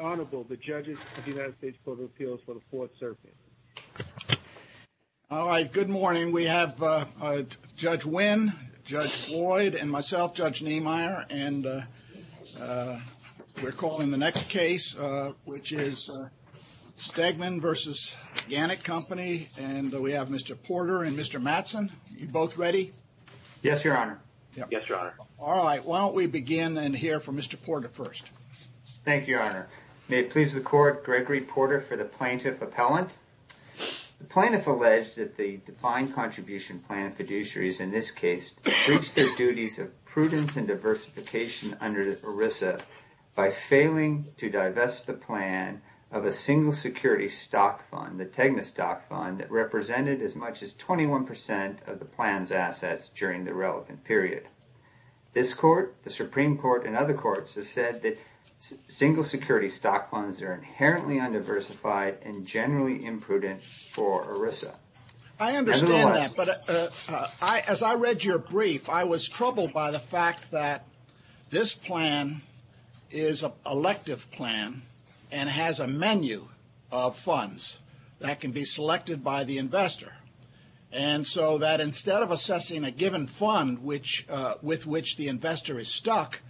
Honorable, the judges of the United States Court of Appeals for the Fourth Circuit. All right, good morning. We have Judge Wynn, Judge Floyd, and myself, Judge Niemeyer, and we're calling the next case, which is Stegman v. Gannett Company, and we have Mr. Porter and Mr. Mattson. You both ready? Yes, Your Honor. Yes, Your Honor. All right, why don't we begin and hear from Mr. Porter first. Thank you, Your Honor. May it please the Court, Gregory Porter for the plaintiff appellant. The plaintiff alleged that the defined contribution plan fiduciaries in this case reached their duties of prudence and diversification under ERISA by failing to divest the plan of a single security stock fund, the Tegna stock fund, that represented as much as 21 percent of the plan's assets during the relevant period. This Court, the Supreme Court, and other courts have said that single security stock funds are inherently undiversified and generally imprudent for ERISA. I understand that, but as I read your brief, I was troubled by the fact that this plan is an elective plan and has a menu of funds that can be selected by the investor, and so that instead of assessing a given fund with which the investor is stuck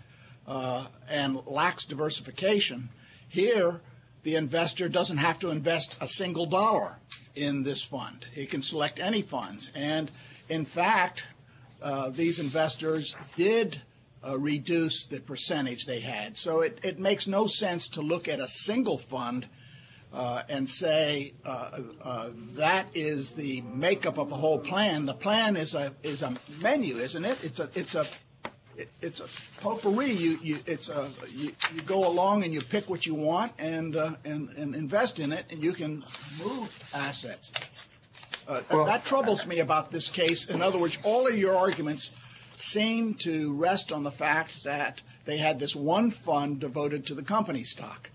and lacks diversification, here the investor doesn't have to invest a single dollar in this fund. He can select any funds, and in fact, these investors did reduce the percentage they had, so it makes no sense to look at a single fund and say that is the makeup of a whole plan. The plan is a menu, isn't it? It's a potpourri. You go along and you pick what you want and invest in it, and you can move assets. That troubles me about this case. In other words, all of your arguments seem to rest on the fact that they had this one fund devoted to the company stock,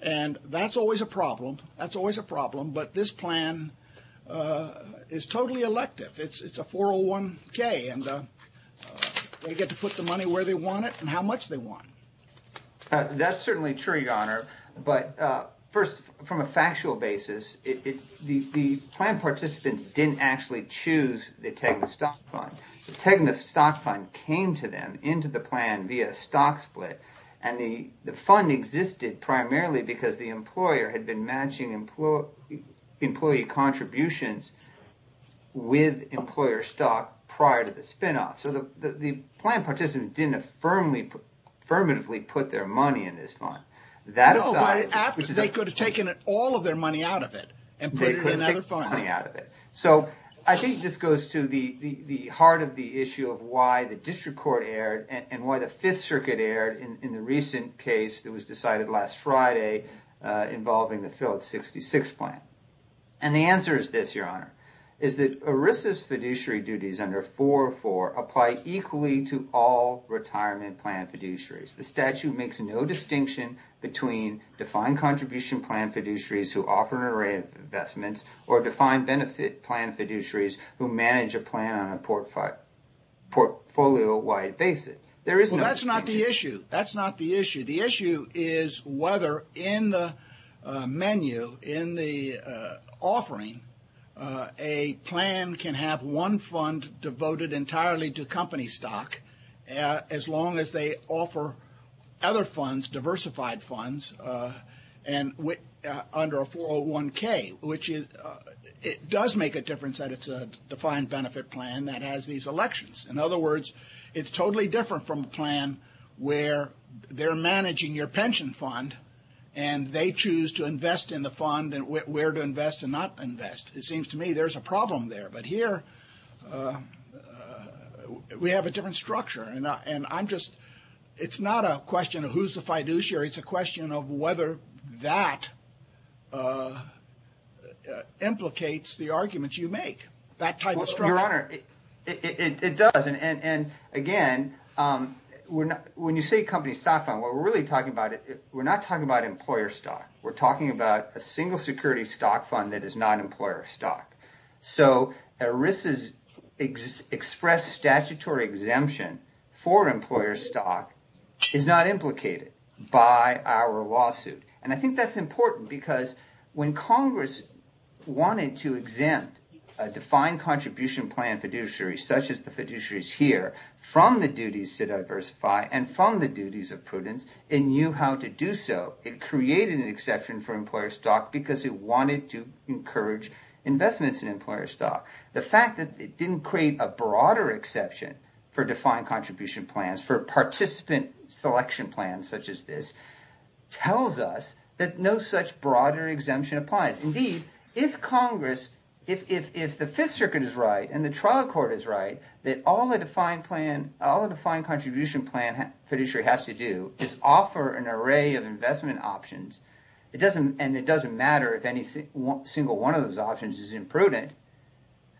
and that's always a problem. That's always a problem, but this plan is totally elective. It's a 401k, and they get to put the money where they want it and how much they want. That's certainly true, Your Honor, but first, from a factual basis, the plan participants didn't choose the Tegna stock fund. The Tegna stock fund came to them into the plan via a stock split, and the fund existed primarily because the employer had been matching employee contributions with employer stock prior to the spinoff, so the plan participants didn't affirmatively put their money in this fund. They could have taken all of their money out of it and put it in another fund. I think this goes to the heart of the issue of why the district court erred and why the Fifth Circuit erred in the recent case that was decided last Friday involving the Phillips 66 plan. The answer is this, Your Honor, is that ERISA's fiduciary duties under 404 apply equally to all retirement plan fiduciaries. The statute makes no distinction between defined contribution plan fiduciaries who manage a plan on a portfolio-wide basis. There is no distinction. That's not the issue. That's not the issue. The issue is whether in the menu, in the offering, a plan can have one fund devoted entirely to company stock as long as they offer other funds, diversified funds, under a 401k, which it does make a difference that it's a defined benefit plan that has these elections. In other words, it's totally different from a plan where they're managing your pension fund, and they choose to invest in the fund and where to invest and not invest. It seems to me there's a problem there, but here we have a different structure, and I'm sure it's a question of whether that implicates the arguments you make. Your Honor, it does. Again, when you say company stock fund, what we're really talking about, we're not talking about employer stock. We're talking about a single security stock fund that is not employer stock. ERISA's express statutory exemption for employer stock is not implicated. Our lawsuit, and I think that's important because when Congress wanted to exempt a defined contribution plan fiduciary such as the fiduciaries here from the duties to diversify and from the duties of prudence, it knew how to do so. It created an exception for employer stock because it wanted to encourage investments in employer stock. The fact that it didn't create a broader exception for defined contribution plans, for participant selection plans such as this, tells us that no such broader exemption applies. Indeed, if Congress, if the Fifth Circuit is right and the trial court is right, that all a defined contribution plan fiduciary has to do is offer an array of investment options, and it doesn't matter if any single one of those options is imprudent,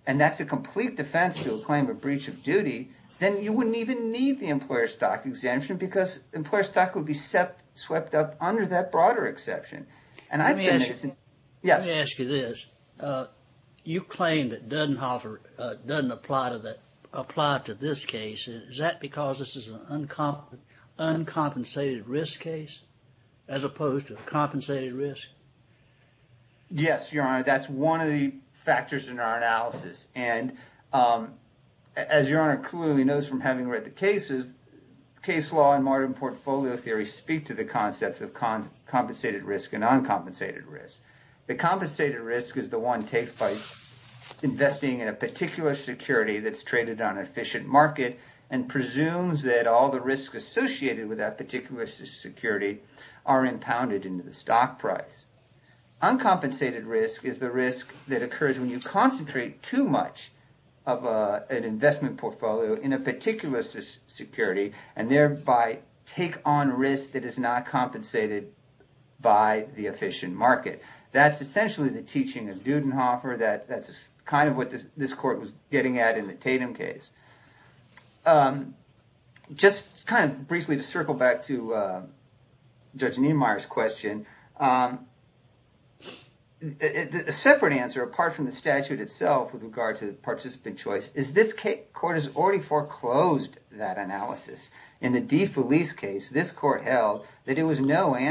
and that's a complete defense to a claim of breach of duty, then you wouldn't even need the employer stock exemption because employer stock would be swept up under that broader exception. Let me ask you this. You claim that Dudenhoffer doesn't apply to this case. Is that because this is an uncompensated risk case as opposed to a compensated risk? Yes, Your Honor. That's one of the factors in our analysis, and as Your Honor clearly knows from having read the cases, case law and modern portfolio theory speak to the concepts of compensated risk and uncompensated risk. The compensated risk is the one takes by investing in a particular security that's traded on an efficient market and presumes that all the risks associated with that particular security are impounded into the stock price. Uncompensated risk is the risk that occurs when you concentrate too much of an investment portfolio in a particular security and thereby take on risk that is not compensated by the efficient market. That's essentially the teaching of Dudenhoffer. That's kind of what this court was getting at in the Tatum case. Just kind of briefly to circle back to Judge Niemeyer's question, a separate answer, apart from the statute itself with regard to the participant choice, is this court has already foreclosed that analysis. In the DeFelice case, this court held that it was no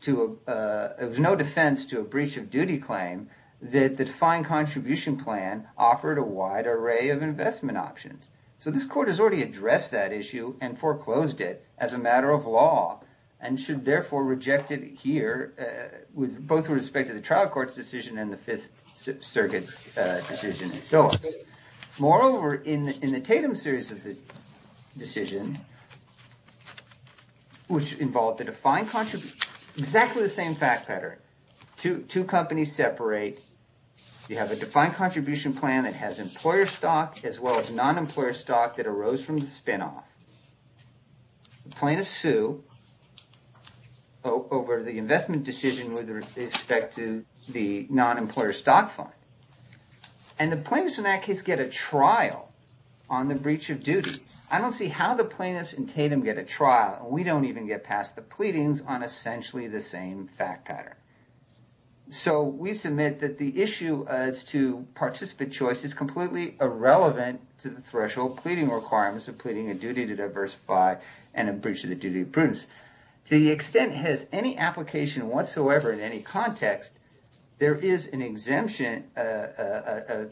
defense to a breach of duty claim that the defined contribution plan offered a wide array of investment options. This court has already addressed that issue and foreclosed it as a both with respect to the trial court's decision and the Fifth Circuit decision. Moreover, in the Tatum series of this decision, which involved the defined contribution, exactly the same fact pattern, two companies separate. You have a defined contribution plan that has employer stock as well as non-employer stock that arose from the spinoff. The plaintiffs sue over the investment decision with respect to the non-employer stock fund. And the plaintiffs in that case get a trial on the breach of duty. I don't see how the plaintiffs in Tatum get a trial. We don't even get past the pleadings on essentially the same fact pattern. So we submit that the issue as to participant choice is completely irrelevant to the threshold pleading requirements of pleading a duty to diversify and a breach of the duty of prudence. To the extent it has any application whatsoever in any context, there is an exemption,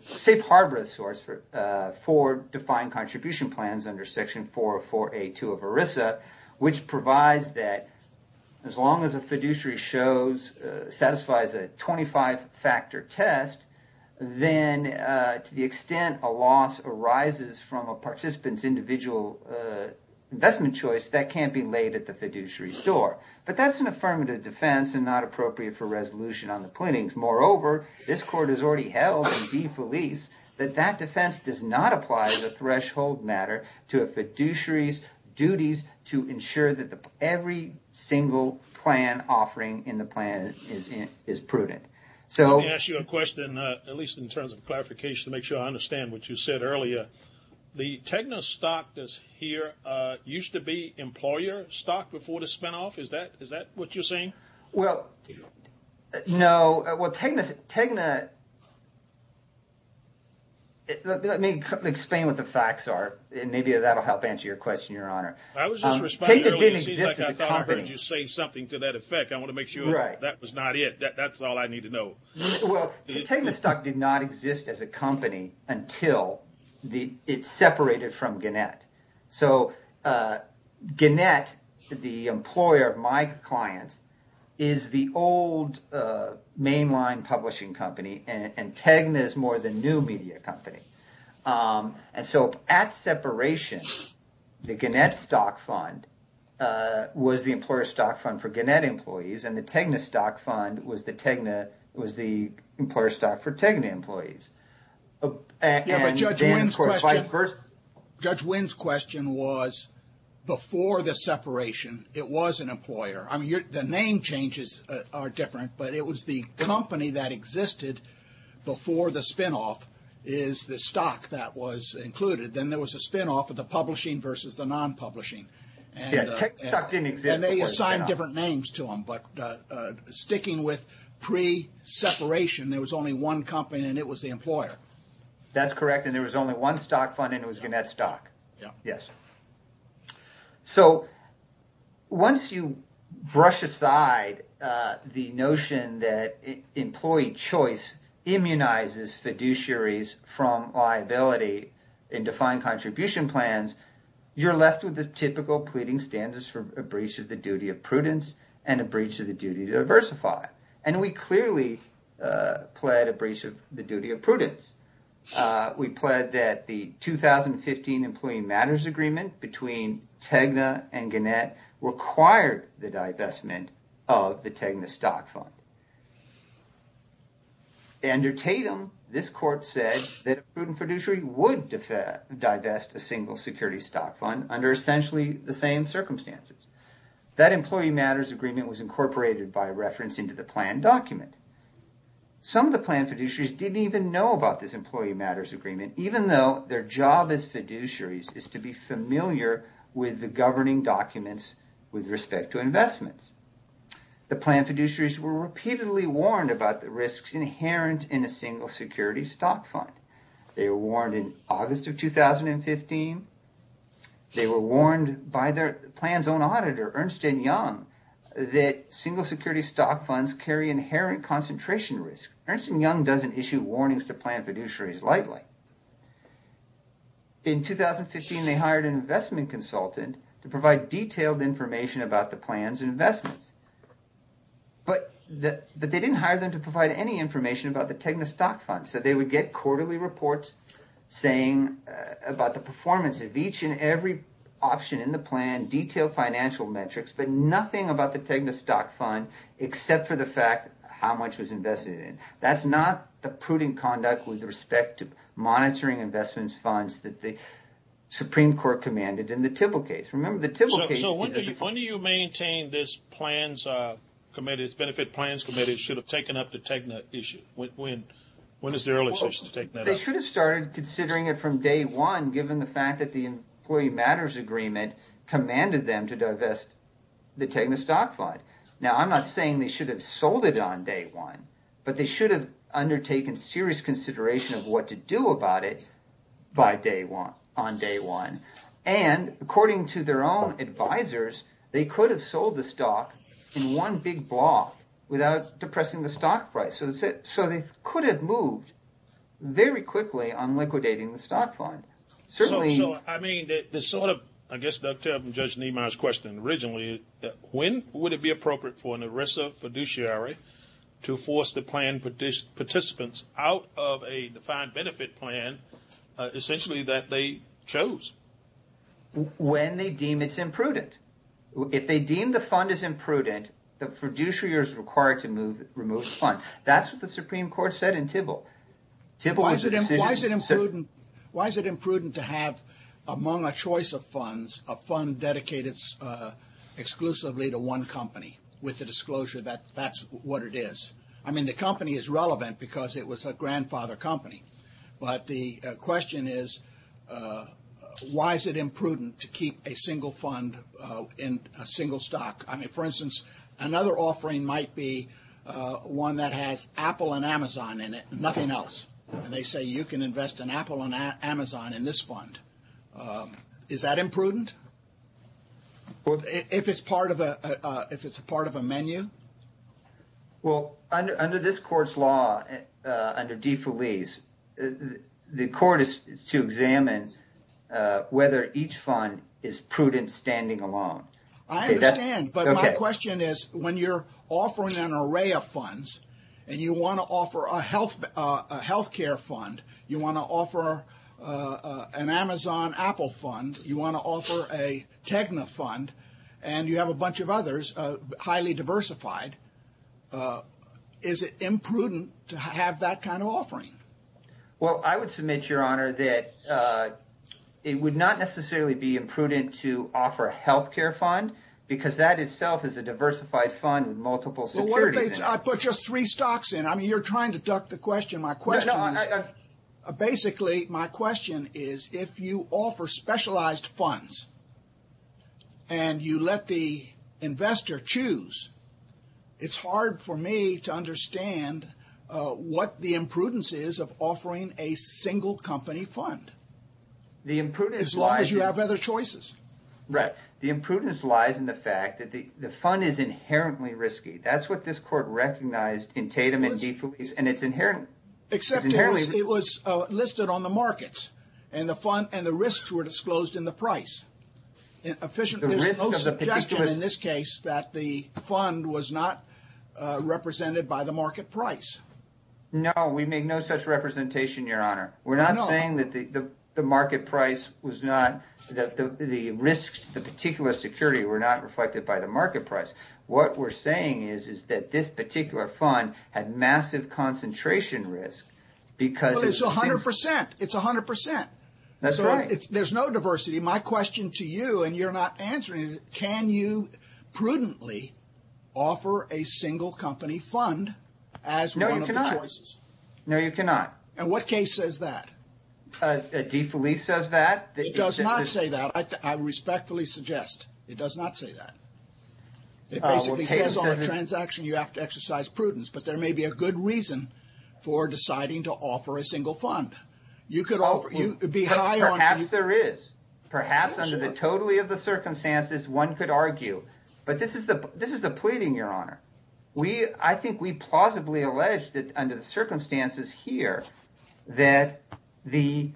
safe harbor source for defined contribution plans under section 404A2 of ERISA, which provides that as long as a fiduciary shows, satisfies a 25-factor test, then to the extent a loss arises from a participant's individual investment choice, that can't be laid at the fiduciary's door. But that's an affirmative defense and not appropriate for resolution on the pleadings. Moreover, this court has already held in defalice that that defense does not apply as a threshold matter to a fiduciary's duties to ensure that every single plan offering in the plan is prudent. So... Let me ask you a question, at least in terms of clarification, to make sure I understand what you said earlier. The Tegna stock that's here used to be employer stock before the spinoff. Is that what you're saying? Well, no. Well, Tegna... Let me explain what the facts are, and maybe that'll help answer your question, Your Honor. I was just responding earlier. Tegna didn't exist as a company. It seems like I thought I heard you say something to that effect. I want to make sure that was not it. That's all I need to know. Well, Tegna stock did not exist as a company until it separated from Gannett. So, Gannett, the employer of my clients, is the old mainline publishing company, and Tegna is more the new media company. And so, at separation, the Gannett stock fund was the employer stock fund for Gannett employees, and the Tegna stock fund was the employer stock for Tegna employees. Yeah, but Judge Wynn's question... Judge Wynn's question was, before the separation, it was an employer. I mean, the name changes are different, but it was the company that existed before the spinoff is the stock that was included. Then there was a spinoff of the publishing versus the non-publishing, and they assigned different names to them. But sticking with pre-separation, there was only one company, and it was the employer. That's correct, and there was only one stock fund, and it was Gannett stock. Yeah. Yes. So, once you brush aside the notion that you're left with the typical pleading standards for a breach of the duty of prudence and a breach of the duty to diversify, and we clearly pled a breach of the duty of prudence. We pled that the 2015 Employee Matters Agreement between Tegna and Gannett required the divestment of the Tegna stock fund. Under Tatum, this court said that a prudent fiduciary would divest a single security stock fund under essentially the same circumstances. That Employee Matters Agreement was incorporated by reference into the plan document. Some of the plan fiduciaries didn't even know about this Employee Matters Agreement, even though their job as fiduciaries is to be familiar with the governing documents with respect to investments. The plan fiduciaries were repeatedly warned about the risks inherent in a single security stock fund. They were warned in August of 2015. They were warned by the plan's own auditor, Ernst and Young, that single security stock funds carry inherent concentration risk. Ernst and Young doesn't issue warnings to plan fiduciaries lightly. In 2015, they hired an investment consultant to provide detailed information about the plans and investments, but they didn't hire them to provide any information about the Tegna stock fund. They would get quarterly reports saying about the performance of each and every option in the plan, detailed financial metrics, but nothing about the Tegna stock fund except for the fact how much was invested in it. That's not the prudent conduct with respect to monitoring investments funds that the Supreme Court commanded in the Tibble case. So when do you maintain this benefit plans committee should have taken up the Tegna issue? They should have started considering it from day one, given the fact that the Employee Matters Agreement commanded them to divest the Tegna stock fund. Now, I'm not saying they should have sold it on day one, but they should have undertaken serious consideration of what to do about it by day one, on day one. And according to their own advisors, they could have sold the stock in one big block without depressing the stock price. So they could have moved very quickly on liquidating the stock fund. Certainly. So, I mean, the sort of, I guess, Judge Niemeyer's question originally, when would it be appropriate for an ERISA fiduciary to force the plan participants out of a defined benefit plan essentially that they chose? When they deem it's imprudent. If they deem the fund is imprudent, the fiduciary is required to move the fund. That's what the Supreme Court said in Tibble. Why is it imprudent to have, among a choice of funds, a fund dedicated exclusively to one company with the disclosure that that's what it is? I mean, the company is relevant because it was a grandfather company. But the question is, why is it imprudent to keep a single fund in a single stock? I mean, for instance, another offering might be one that has Apple and Amazon in it, nothing else. And they say you can invest in Apple and Amazon in this fund. Is that imprudent? Well, if it's part of a menu? Well, under this court's law, under defalese, the court is to examine whether each fund is prudent standing alone. I understand. But my question is, when you're offering an array of funds and you want to offer a health care fund, you want to offer an Amazon-Apple fund, you want to offer a Tegna fund, and you have a bunch of others, highly diversified, is it imprudent to have that kind of offering? Well, I would submit, Your Honor, that it would not necessarily be imprudent to offer a health care fund because that itself is a diversified fund with multiple securities in it. Well, what if I put just three stocks in? I mean, you're trying to duck the question. My question is, basically, my question is, if you offer specialized funds and you let the investor choose, it's hard for me to understand what the imprudence is of offering a single company fund. As long as you have other choices. Right. The imprudence lies in the fact that the fund is inherently risky. That's what this court recognized in Tatum and defalese, and it's inherent. Except it was listed on the markets and the risks were disclosed in the price. There's no suggestion in this case that the fund was not represented by the market price. No, we make no such representation, Your Honor. We're not saying that the risk to the particular security were not reflected by the market price. What we're saying is that this particular fund had massive concentration risk because- Well, it's 100%. It's 100%. That's right. There's no diversity. My question to you, and you're not answering it, can you prudently offer a single company fund as one of the choices? No, you cannot. No, you cannot. And what case says that? Defalese says that. It does not say that. I respectfully suggest it does not say that. It basically says on a transaction you have to exercise prudence, but there may be a good reason for deciding to offer a single fund. You could be high on- Perhaps there is. Perhaps under the totality of the circumstances, one could argue. But this is a pleading, Your Honor. I think we plausibly allege that under the circumstances here that the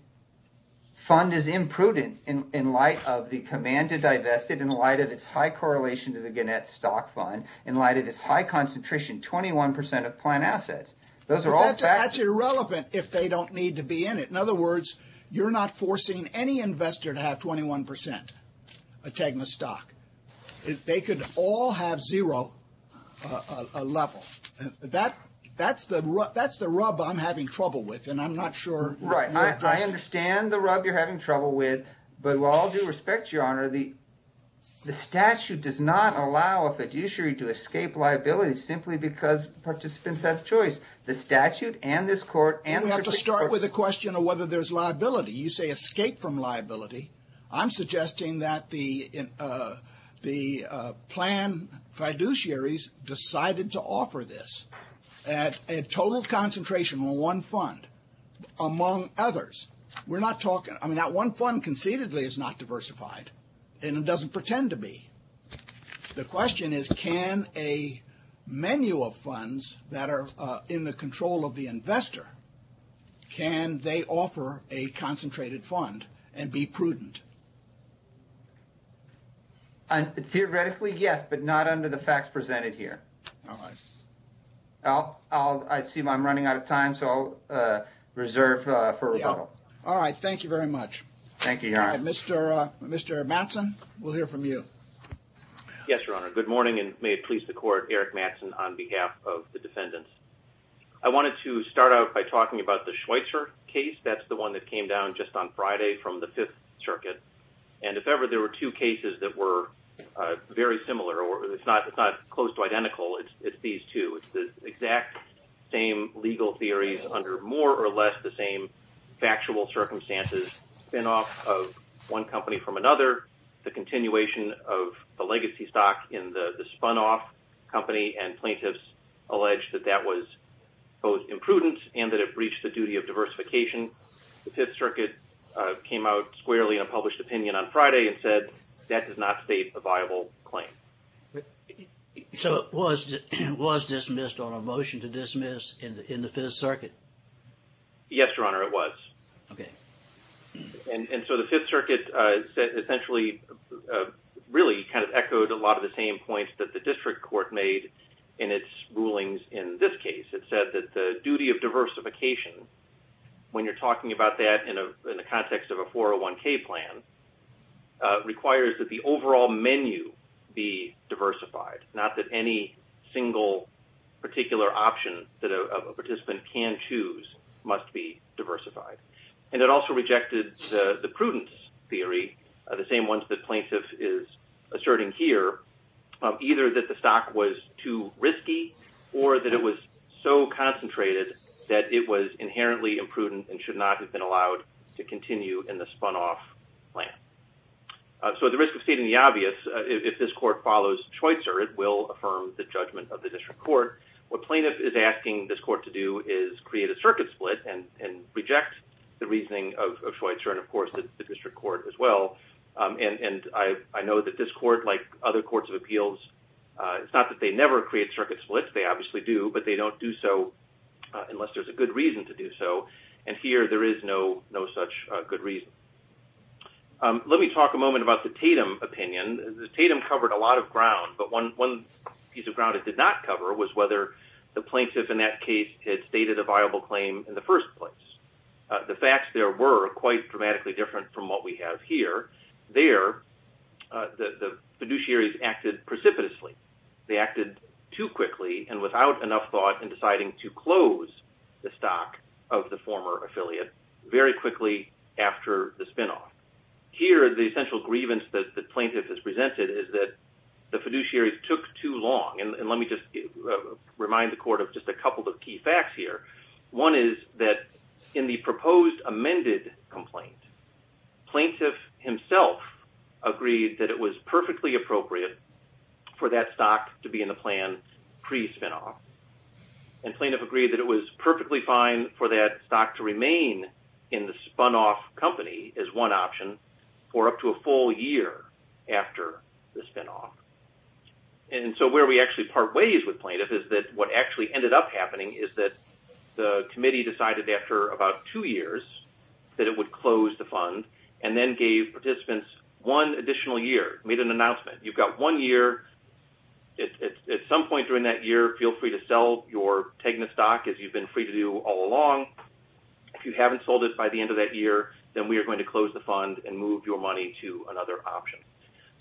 fund is imprudent in light of the command to divest it, in light of its high correlation to the Gannett stock fund, in light of its high concentration, 21% of plant assets. Those are all- That's irrelevant if they don't need to be in it. In other words, you're not forcing any investor to have 21% of Tegna stock. They could all have zero level. That's the rub I'm having trouble with, and I'm not sure- Right. I understand the rub you're having trouble with, but with all due respect, Your Honor, the statute does not allow a fiduciary to escape liability simply because participants have a choice. The statute and this court- We have to start with the question of whether there's liability. I'm suggesting that the plan fiduciaries decided to offer this at a total concentration on one fund among others. We're not talking- I mean, that one fund concededly is not diversified, and it doesn't pretend to be. The question is, can a menu of funds that are in the be prudent? Theoretically, yes, but not under the facts presented here. I see I'm running out of time, so I'll reserve for rebuttal. All right. Thank you very much. Thank you, Your Honor. Mr. Mattson, we'll hear from you. Yes, Your Honor. Good morning, and may it please the court, Eric Mattson on behalf of the defendants. I wanted to start out by talking about the Schweitzer case. That's the one that came down just on Friday from the Fifth Circuit, and if ever there were two cases that were very similar, or it's not close to identical, it's these two. It's the exact same legal theories under more or less the same factual circumstances, spinoff of one company from another, the continuation of the legacy stock in the spun-off company, and plaintiffs allege that that was both imprudent and that it breached the duty of diversification. The Fifth Circuit came out squarely in a published opinion on Friday and said that does not state a viable claim. So it was dismissed on a motion to dismiss in the Fifth Circuit? Yes, Your Honor, it was. Okay. And so the Fifth Circuit essentially really kind of echoed a lot of the same points that the duty of diversification, when you're talking about that in the context of a 401k plan, requires that the overall menu be diversified, not that any single particular option that a participant can choose must be diversified. And it also rejected the prudence theory, the same ones that plaintiff is asserting here, either that the stock was too risky or that it was so concentrated that it was inherently imprudent and should not have been allowed to continue in the spun-off plan. So at the risk of stating the obvious, if this court follows Schweitzer, it will affirm the judgment of the district court. What plaintiff is asking this court to do is create a circuit split and reject the reasoning of Schweitzer and, of course, the district court as well. And I know that this court, like other courts of appeals, it's not that they never create circuit splits, they obviously do, but they don't do so unless there's a good reason to do so. And here there is no such good reason. Let me talk a moment about the Tatum opinion. The Tatum covered a lot of ground, but one piece of ground it did not cover was whether the plaintiff in that case had stated a viable claim in the first place. The facts there were quite dramatically different from what we have here. There, the fiduciaries acted precipitously. They acted too quickly and without enough thought in deciding to close the stock of the former affiliate very quickly after the spin-off. Here, the essential grievance that the plaintiff has presented is that the fiduciaries took too long. And let me just remind the court of just a couple of key facts here. One is that in the agreed that it was perfectly appropriate for that stock to be in the plan pre-spin-off. And plaintiff agreed that it was perfectly fine for that stock to remain in the spun-off company as one option for up to a full year after the spin-off. And so where we actually part ways with plaintiff is that what actually ended up happening is that the committee decided after about two years that it would close the fund and then gave participants one additional year, made an announcement. You've got one year. At some point during that year, feel free to sell your Tegna stock as you've been free to do all along. If you haven't sold it by the end of that year, then we are going to close the fund and move your money to another option.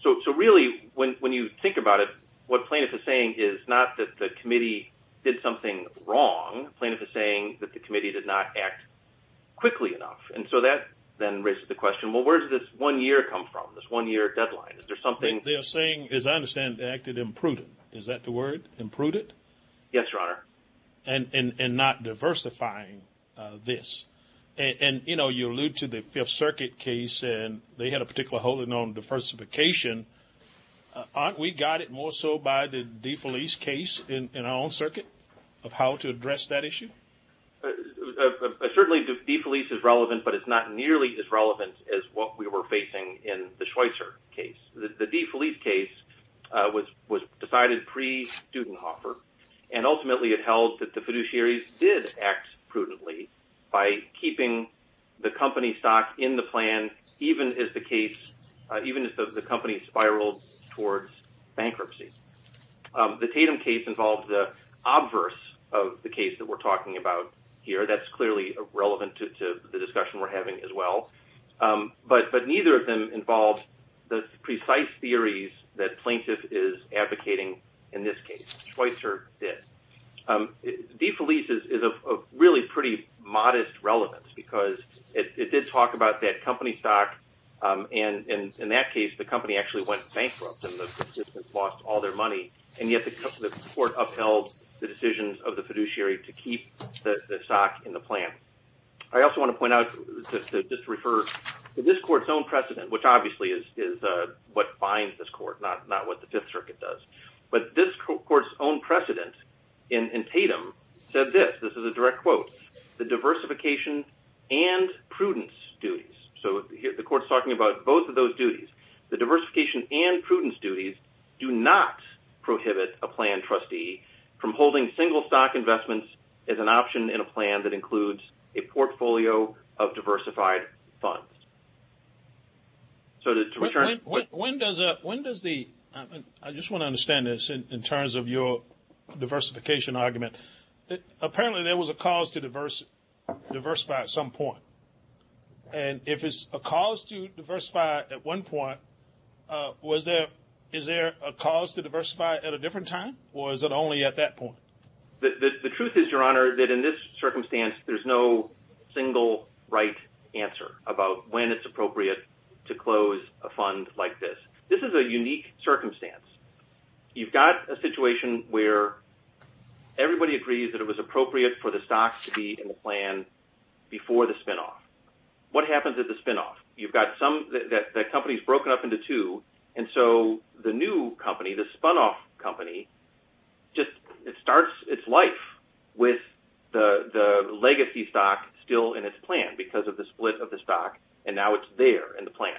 So really, when you think about it, what plaintiff is saying is not that the committee did something wrong. Plaintiff is saying that the committee did not act quickly enough. And so that then raises the question, well, where did this one year come from, this one year deadline? Is there something... They're saying, as I understand it, they acted imprudent. Is that the word, imprudent? Yes, Your Honor. And not diversifying this. And, you know, you allude to the Fifth Circuit case and they had a particular holding on diversification. Aren't we guided more so by the DeFelice case in our own case? Certainly DeFelice is relevant, but it's not nearly as relevant as what we were facing in the Schweitzer case. The DeFelice case was decided pre-Dudenhoffer and ultimately it held that the fiduciaries did act prudently by keeping the company stock in the plan, even as the case, even as the company spiraled towards bankruptcy. The Tatum case involved the case that we're talking about here. That's clearly relevant to the discussion we're having as well. But neither of them involved the precise theories that plaintiff is advocating in this case, Schweitzer did. DeFelice is of really pretty modest relevance because it did talk about that company stock. And in that case, the company actually went bankrupt and the participants to keep the stock in the plan. I also want to point out to just refer to this court's own precedent, which obviously is what binds this court, not what the Fifth Circuit does. But this court's own precedent in Tatum said this, this is a direct quote, the diversification and prudence duties. So the court's talking about both of those duties, the diversification and prudence duties do not prohibit a plan trustee from holding single stock investments as an option in a plan that includes a portfolio of diversified funds. I just want to understand this in terms of your diversification argument. Apparently, there was a cause to diversify at some point. And if it's a cause to diversify at one point, is there a cause to diversify at a different time? Or is it only at that point? The truth is, Your Honor, that in this circumstance, there's no single right answer about when it's appropriate to close a fund like this. This is a unique circumstance. You've got a situation where everybody agrees that it was appropriate for the stock to be in the plan before the spinoff. What happens at the spinoff? You've got some, that company's company, just it starts its life with the legacy stock still in its plan because of the split of the stock. And now it's there in the plan.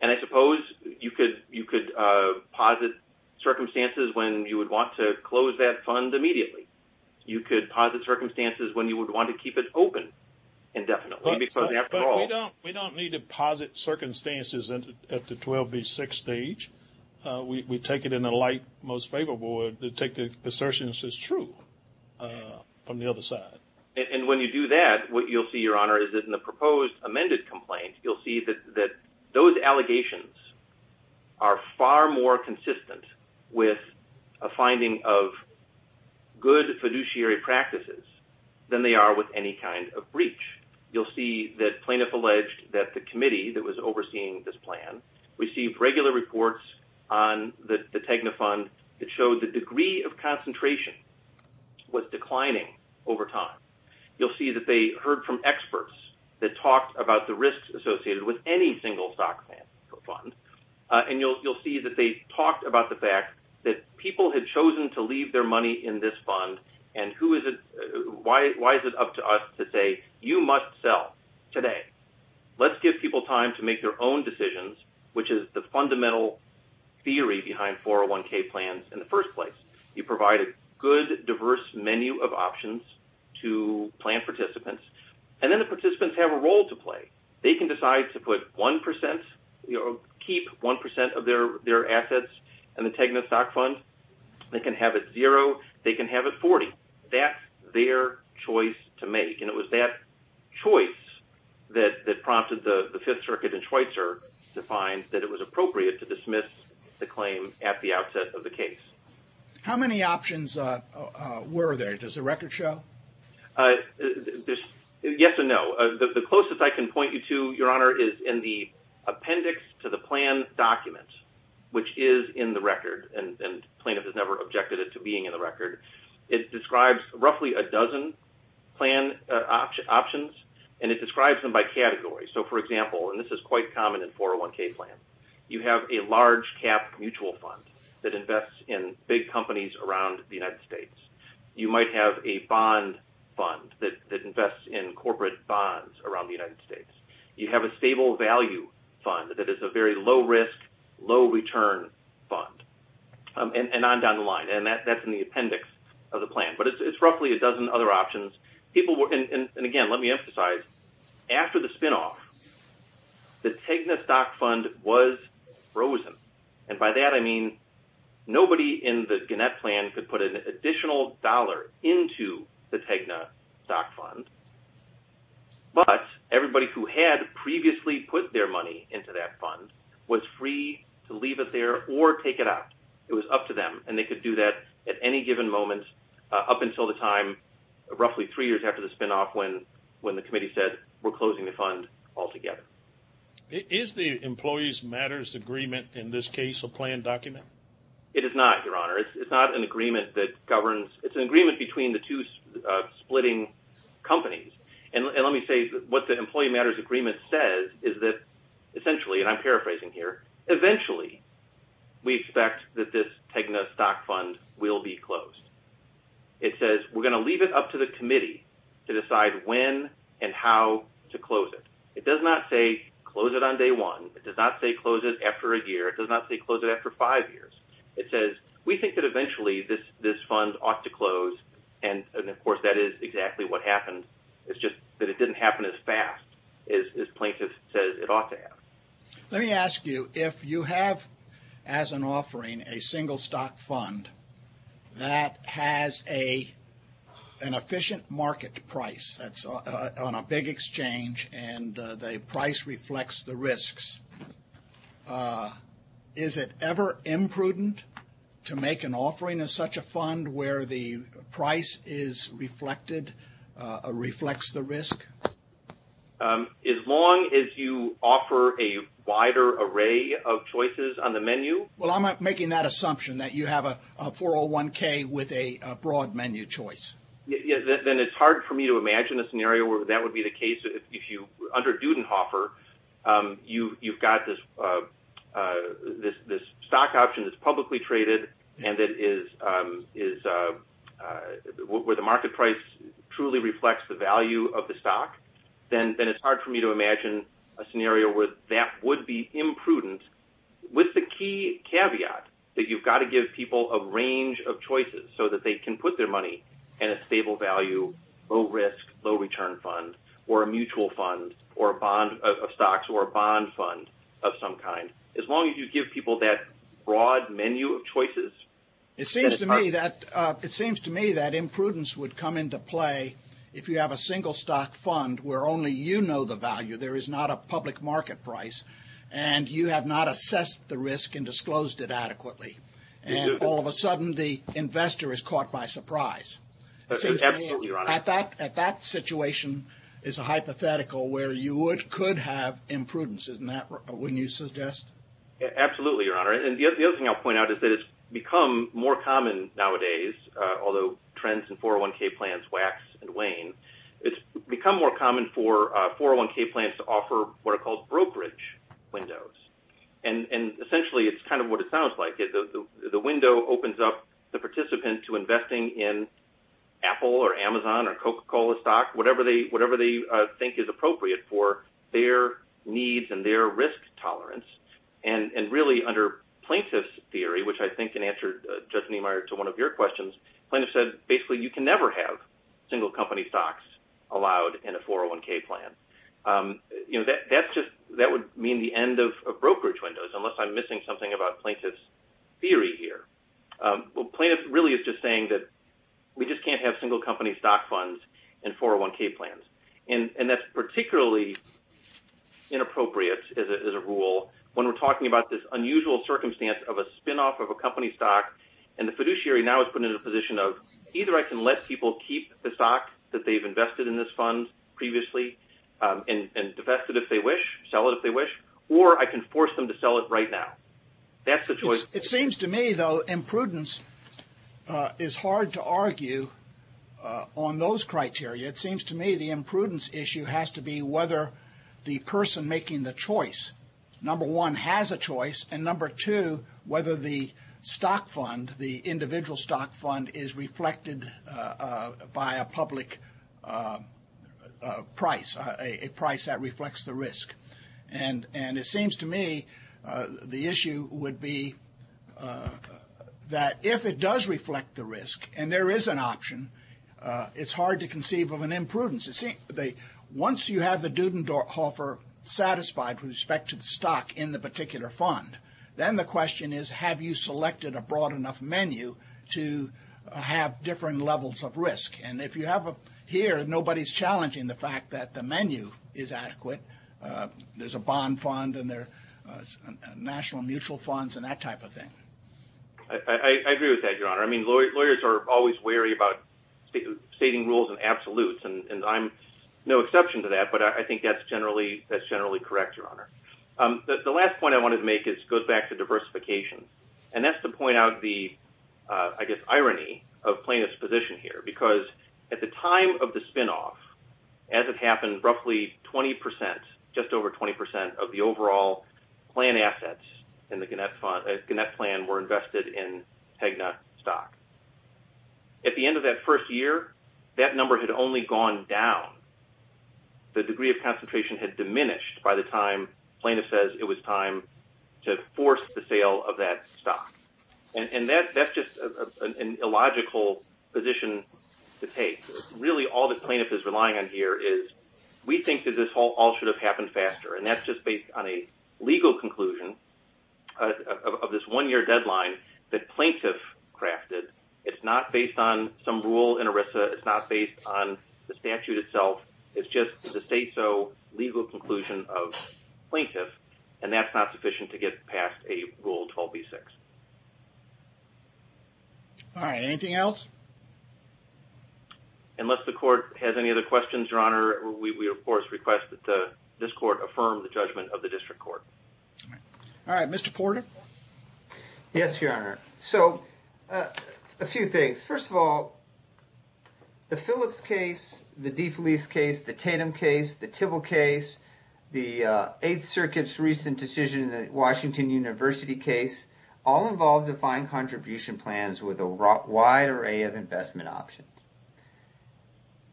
And I suppose you could you could posit circumstances when you would want to close that fund immediately. You could posit circumstances when you would want to keep it open. And definitely, because after all, we don't need to posit circumstances at the 12 v. 6 stage. We take it in a light, most favorable way to take the assertions as true from the other side. And when you do that, what you'll see, Your Honor, is that in the proposed amended complaint, you'll see that those allegations are far more consistent with a finding of good fiduciary practices than they are with any kind of breach. You'll see that plaintiff alleged that the committee that was overseeing this plan received regular reports on the Tegna fund that showed the degree of concentration was declining over time. You'll see that they heard from experts that talked about the risks associated with any single stock plan for fund. And you'll see that they talked about the fact that people had chosen to leave their today. Let's give people time to make their own decisions, which is the fundamental theory behind 401k plans. In the first place, you provide a good, diverse menu of options to plan participants. And then the participants have a role to play. They can decide to put 1% or keep 1% of their assets and the Tegna stock fund. They can have it zero. They can have it 40. That's their choice to make. And it was that choice that prompted the Fifth Circuit and Schweitzer to find that it was appropriate to dismiss the claim at the outset of the case. How many options were there? Does the record show? Yes or no. The closest I can point you to, Your Honor, is in the appendix to the plan document, which is in the record. And plaintiff has never objected to being in the record. It describes roughly a dozen plan options, and it describes them by category. So for example, and this is quite common in 401k plans, you have a large cap mutual fund that invests in big companies around the United States. You might have a bond fund that invests in corporate bonds around the United States. You have a stable value fund that is a very low risk, low return fund. And on down the line. And that's in the appendix of the plan. But it's roughly a dozen other options. And again, let me emphasize, after the spinoff, the Tegna stock fund was frozen. And by that, I mean nobody in the Gannett plan could put an additional dollar into the Tegna stock fund. But everybody who had previously put their money into that fund was free to leave it there or take it out. It was up to them. And they could do that at any given moment, up until the time, roughly three years after the spinoff, when the committee said, we're closing the fund altogether. Is the Employees Matters Agreement, in this case, a planned document? It is not, Your Honor. It's not an agreement that governs. It's an agreement between the two splitting companies. And let me say what Employees Matters Agreement says is that, essentially, and I'm paraphrasing here, eventually, we expect that this Tegna stock fund will be closed. It says we're going to leave it up to the committee to decide when and how to close it. It does not say close it on day one. It does not say close it after a year. It does not say close it after five years. It says we think that eventually this fund ought to close. And of course, that is exactly what happened. It's just that it didn't happen as fast as plaintiff says it ought to happen. Let me ask you, if you have, as an offering, a single stock fund that has an efficient market price that's on a big exchange and the price reflects the risks, is it ever imprudent to make an offering of such a fund where the market price truly reflects the value of the stock? Well, I'm not making that assumption that you have a 401k with a broad menu choice. Then it's hard for me to imagine a scenario where that would be the case. If you, under Dudenhofer, you've got this stock option that's publicly traded and that is where the market price truly reflects the value of the stock, then it's hard for me to imagine a scenario where that would be imprudent with the key caveat that you've got to give people a range of choices so that they can put their money in a stable value, low risk, low return fund, or a mutual fund, or a bond of stocks, or a bond fund of some kind. As long as you give people that menu of choices. It seems to me that imprudence would come into play if you have a single stock fund where only you know the value, there is not a public market price, and you have not assessed the risk and disclosed it adequately. And all of a sudden the investor is caught by surprise. At that situation is a hypothetical where you could have imprudence, wouldn't you suggest? Absolutely, Your Honor. And the other thing I'll point out is that it's become more common nowadays, although trends in 401k plans wax and wane, it's become more common for 401k plans to offer what are called brokerage windows. And essentially it's kind of what it sounds like. The window opens up the participant to investing in Apple, or Amazon, or Coca-Cola stock, whatever they think is appropriate for their needs and their risk tolerance. And really under plaintiff's theory, which I think can answer Judge Niemeyer to one of your questions, plaintiff said basically you can never have single company stocks allowed in a 401k plan. That would mean the end of brokerage windows, unless I'm missing something about plaintiff's theory here. Well plaintiff really is just saying that we just can't have single when we're talking about this unusual circumstance of a spinoff of a company stock, and the fiduciary now is put in a position of either I can let people keep the stock that they've invested in this fund previously and divest it if they wish, sell it if they wish, or I can force them to sell it right now. That's the choice. It seems to me though imprudence is hard to argue on those criteria. It seems to me the imprudence issue has to be whether the person making the choice, number one, has a choice, and number two, whether the stock fund, the individual stock fund, is reflected by a public price, a price that reflects the risk. And it seems to me the issue would be that if it does reflect the risk and there is an option, it's hard to conceive of an imprudence. Once you have the Dudenhofer satisfied with respect to the stock in the particular fund, then the question is have you selected a broad enough menu to have differing levels of risk? And if you have here, nobody's challenging the fact that the menu is adequate. There's a bond fund and there's national mutual funds and that type of thing. I agree with that, Your Honor. I mean, lawyers are always wary about stating rules in absolutes, and I'm no exception to that, but I think that's generally correct, Your Honor. The last point I wanted to make goes back to diversification. And that's to point out the, I guess, irony of plaintiff's position here. Because at the time of the spinoff, as it happened, roughly 20 percent, just over 20 percent of the overall plan assets in the Gannett plan were invested in Tegna stock. At the end of that first year, that number had only gone down. The degree of concentration had diminished by the time plaintiff says it was time to force the sale of that stock. And that's just an illogical position to take. Really, all the plaintiff is relying on here is, we think that this all should have happened faster. And that's just based on a legal conclusion of this one-year deadline that plaintiff crafted. It's not based on some rule in ERISA. It's not based on the statute itself. It's just the say-so legal conclusion of plaintiff. And that's not sufficient to get past a Rule 12b-6. All right. Anything else? Unless the court has any other questions, Your Honor, we, of course, request that this court affirm the judgment of the district court. All right. Mr. Porter? Yes, Your Honor. So, a few things. First of all, the Phillips case, the DeFelice case, the Tatum case, the Tibble case, the Eighth Circuit's recent decision in the Washington University case, all involved defined contribution plans with a wide array of investment options.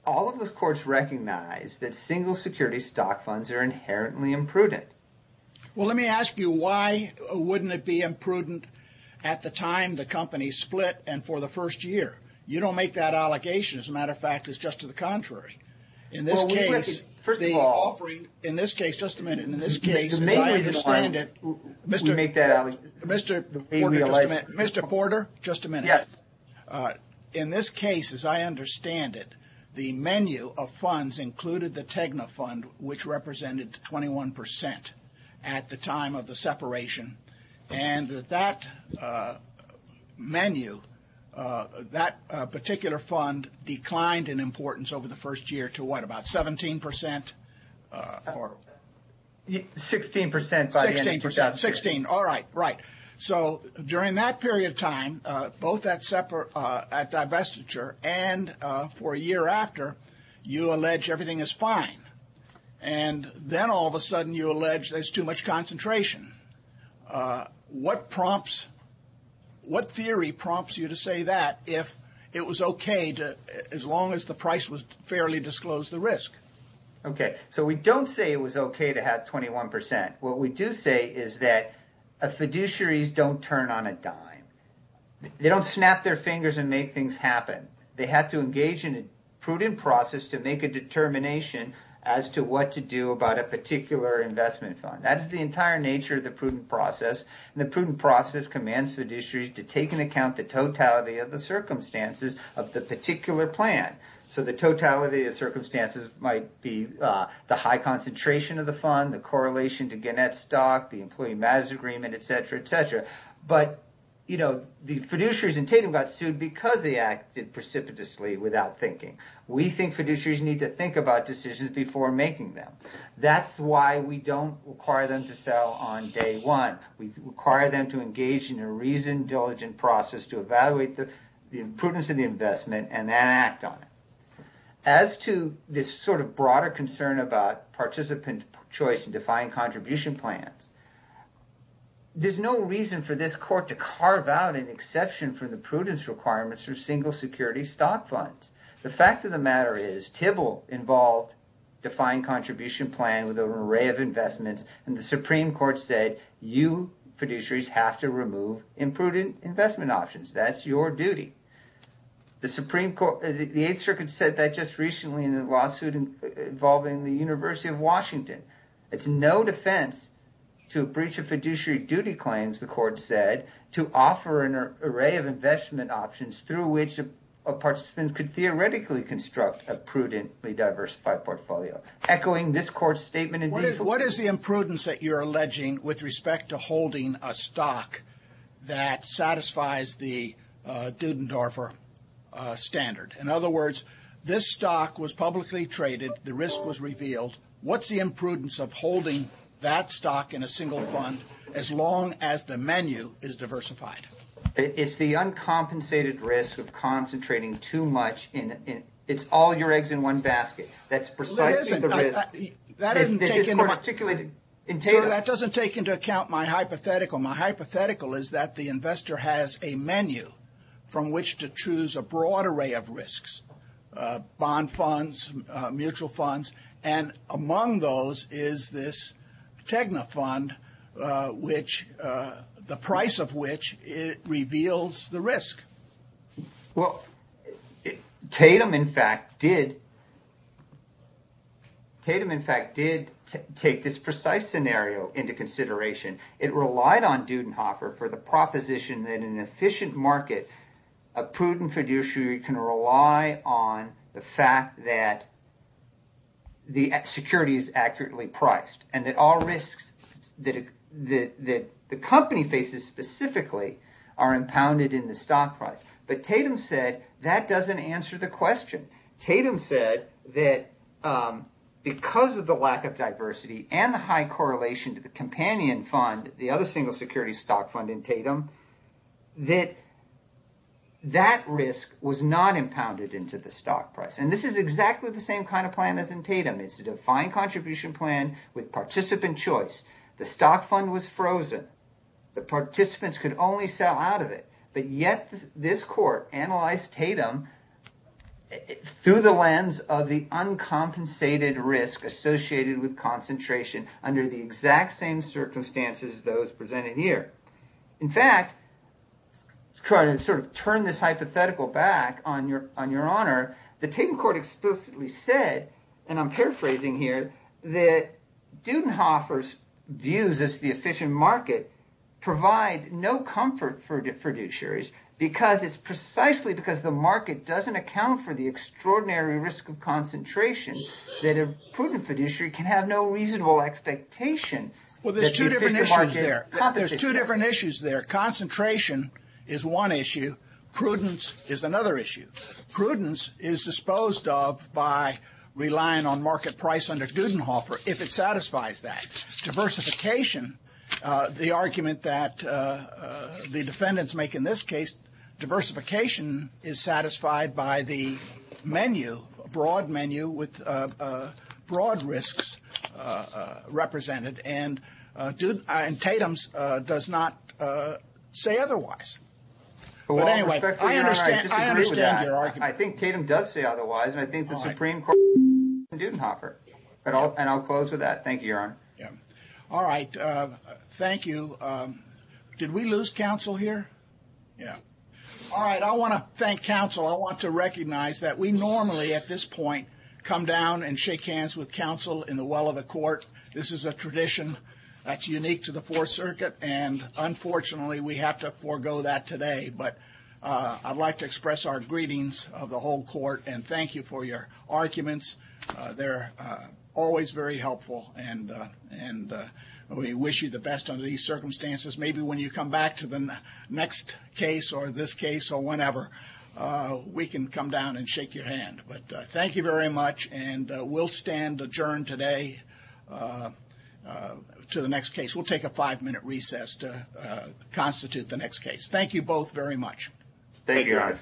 All of those courts recognize that single security stock funds are inherently imprudent. Well, let me ask you, why wouldn't it be imprudent at the time the company split and for the first year? You don't make that allegation. As a matter of fact, it's just to the contrary. In this case, the offering, in this case, just a minute, in this case, as I understand it, Mr. Porter, just a minute, Mr. Porter, just a minute. Yes. In this case, as I understand it, the menu of funds included the Tegna Fund, which represented 21 percent at the time of the year to what, about 17 percent? 16 percent. 16 percent. 16. All right. Right. So, during that period of time, both at divestiture and for a year after, you allege everything is fine. And then all of a sudden you allege there's too much concentration. What prompts, what theory prompts you to say that if it was okay to, as long as the price was fairly disclosed, the risk? Okay. So we don't say it was okay to have 21 percent. What we do say is that a fiduciaries don't turn on a dime. They don't snap their fingers and make things happen. They have to engage in a prudent process to make a determination as to what to do about a particular investment fund. That is the entire nature of the prudent process. And the prudent process commands fiduciaries to take into account the totality of the circumstances of the particular plan. So the totality of circumstances might be the high concentration of the fund, the correlation to Gannett stock, the employee matters agreement, et cetera, et cetera. But, you know, the fiduciaries in Tatum got sued because they acted precipitously without thinking. We think fiduciaries need to think about decisions before making them. That's why we don't require them to sell on day one. We require them to engage in a reasoned, diligent process to evaluate the prudence of the investment and then act on it. As to this sort of broader concern about participant choice and defined contribution plans, there's no reason for this court to carve out an exception from the prudence requirements for single security stock funds. The fact of the matter is, TIBL involved defined contribution plan with an array of investments and the Supreme Court said, you fiduciaries have to remove imprudent investment options. That's your duty. The Supreme Court, the Eighth Circuit said that just recently in a lawsuit involving the University of Washington. It's no defense to a breach of fiduciary duty claims, the court said, to offer an array of investment options through which a participant could theoretically construct a prudently diversified portfolio. Echoing this court's statement. What is the imprudence that you're alleging with respect to holding a stock that satisfies the Dudendorfer standard? In other words, this stock was publicly traded, the risk was revealed. What's the imprudence of holding that stock in a single fund as long as the menu is diversified? It's the uncompensated risk of concentrating too much. It's all your eggs in one basket. That's precisely the risk. That doesn't take into account my hypothetical. My hypothetical is that the investor has a menu from which to choose a broad array of risks, bond funds, mutual funds, and among those is this Tegna fund, the price of which it reveals the risk. Well, Tatum in fact did take this precise scenario into consideration. It relied on Dudenhorfer for the proposition that in an efficient market, a prudent fiduciary can rely on the fact that the security is accurately priced and that all risks that the company faces specifically are impounded in the stock price. But Tatum said that doesn't answer the question. Tatum said that because of the lack of diversity and the high correlation to the companion fund, the other single security stock fund in Tatum, that that risk was not impounded into the stock price. This is exactly the same kind of plan as in Tatum. It's a defined contribution plan with participant choice. The stock fund was frozen. The participants could only sell out of it, but yet this court analyzed Tatum through the lens of the uncompensated risk associated with those presented here. In fact, to try to sort of turn this hypothetical back on your honor, the Tatum court explicitly said, and I'm paraphrasing here, that Dudenhorfer's views as the efficient market provide no comfort for the fiduciaries because it's precisely because the market doesn't account for the extraordinary risk of concentration that a prudent fiduciary can have no reasonable expectation. Well, there's two different issues there. Concentration is one issue. Prudence is another issue. Prudence is disposed of by relying on market price under Dudenhorfer if it satisfies that. Diversification, the argument that the defendants make in this case, diversification is satisfied by the menu, broad menu with broad risks represented, and Tatum's does not say otherwise. But anyway, I understand your argument. I think Tatum does say otherwise, and I think the Supreme Court is in favor of Dudenhorfer. And I'll close with that. Thank you, yeah. All right. I want to thank counsel. I want to recognize that we normally at this point come down and shake hands with counsel in the well of the court. This is a tradition that's unique to the Fourth Circuit, and unfortunately, we have to forego that today. But I'd like to express our greetings of the whole court and thank you for your arguments. They're always very helpful, and we wish you the best under these circumstances. Maybe when you come back to the next case or this case or whenever, we can come down and shake your hand. But thank you very much, and we'll stand adjourned today to the next case. We'll take a five-minute recess to constitute the next case. Thank you both very much. Thank you, guys.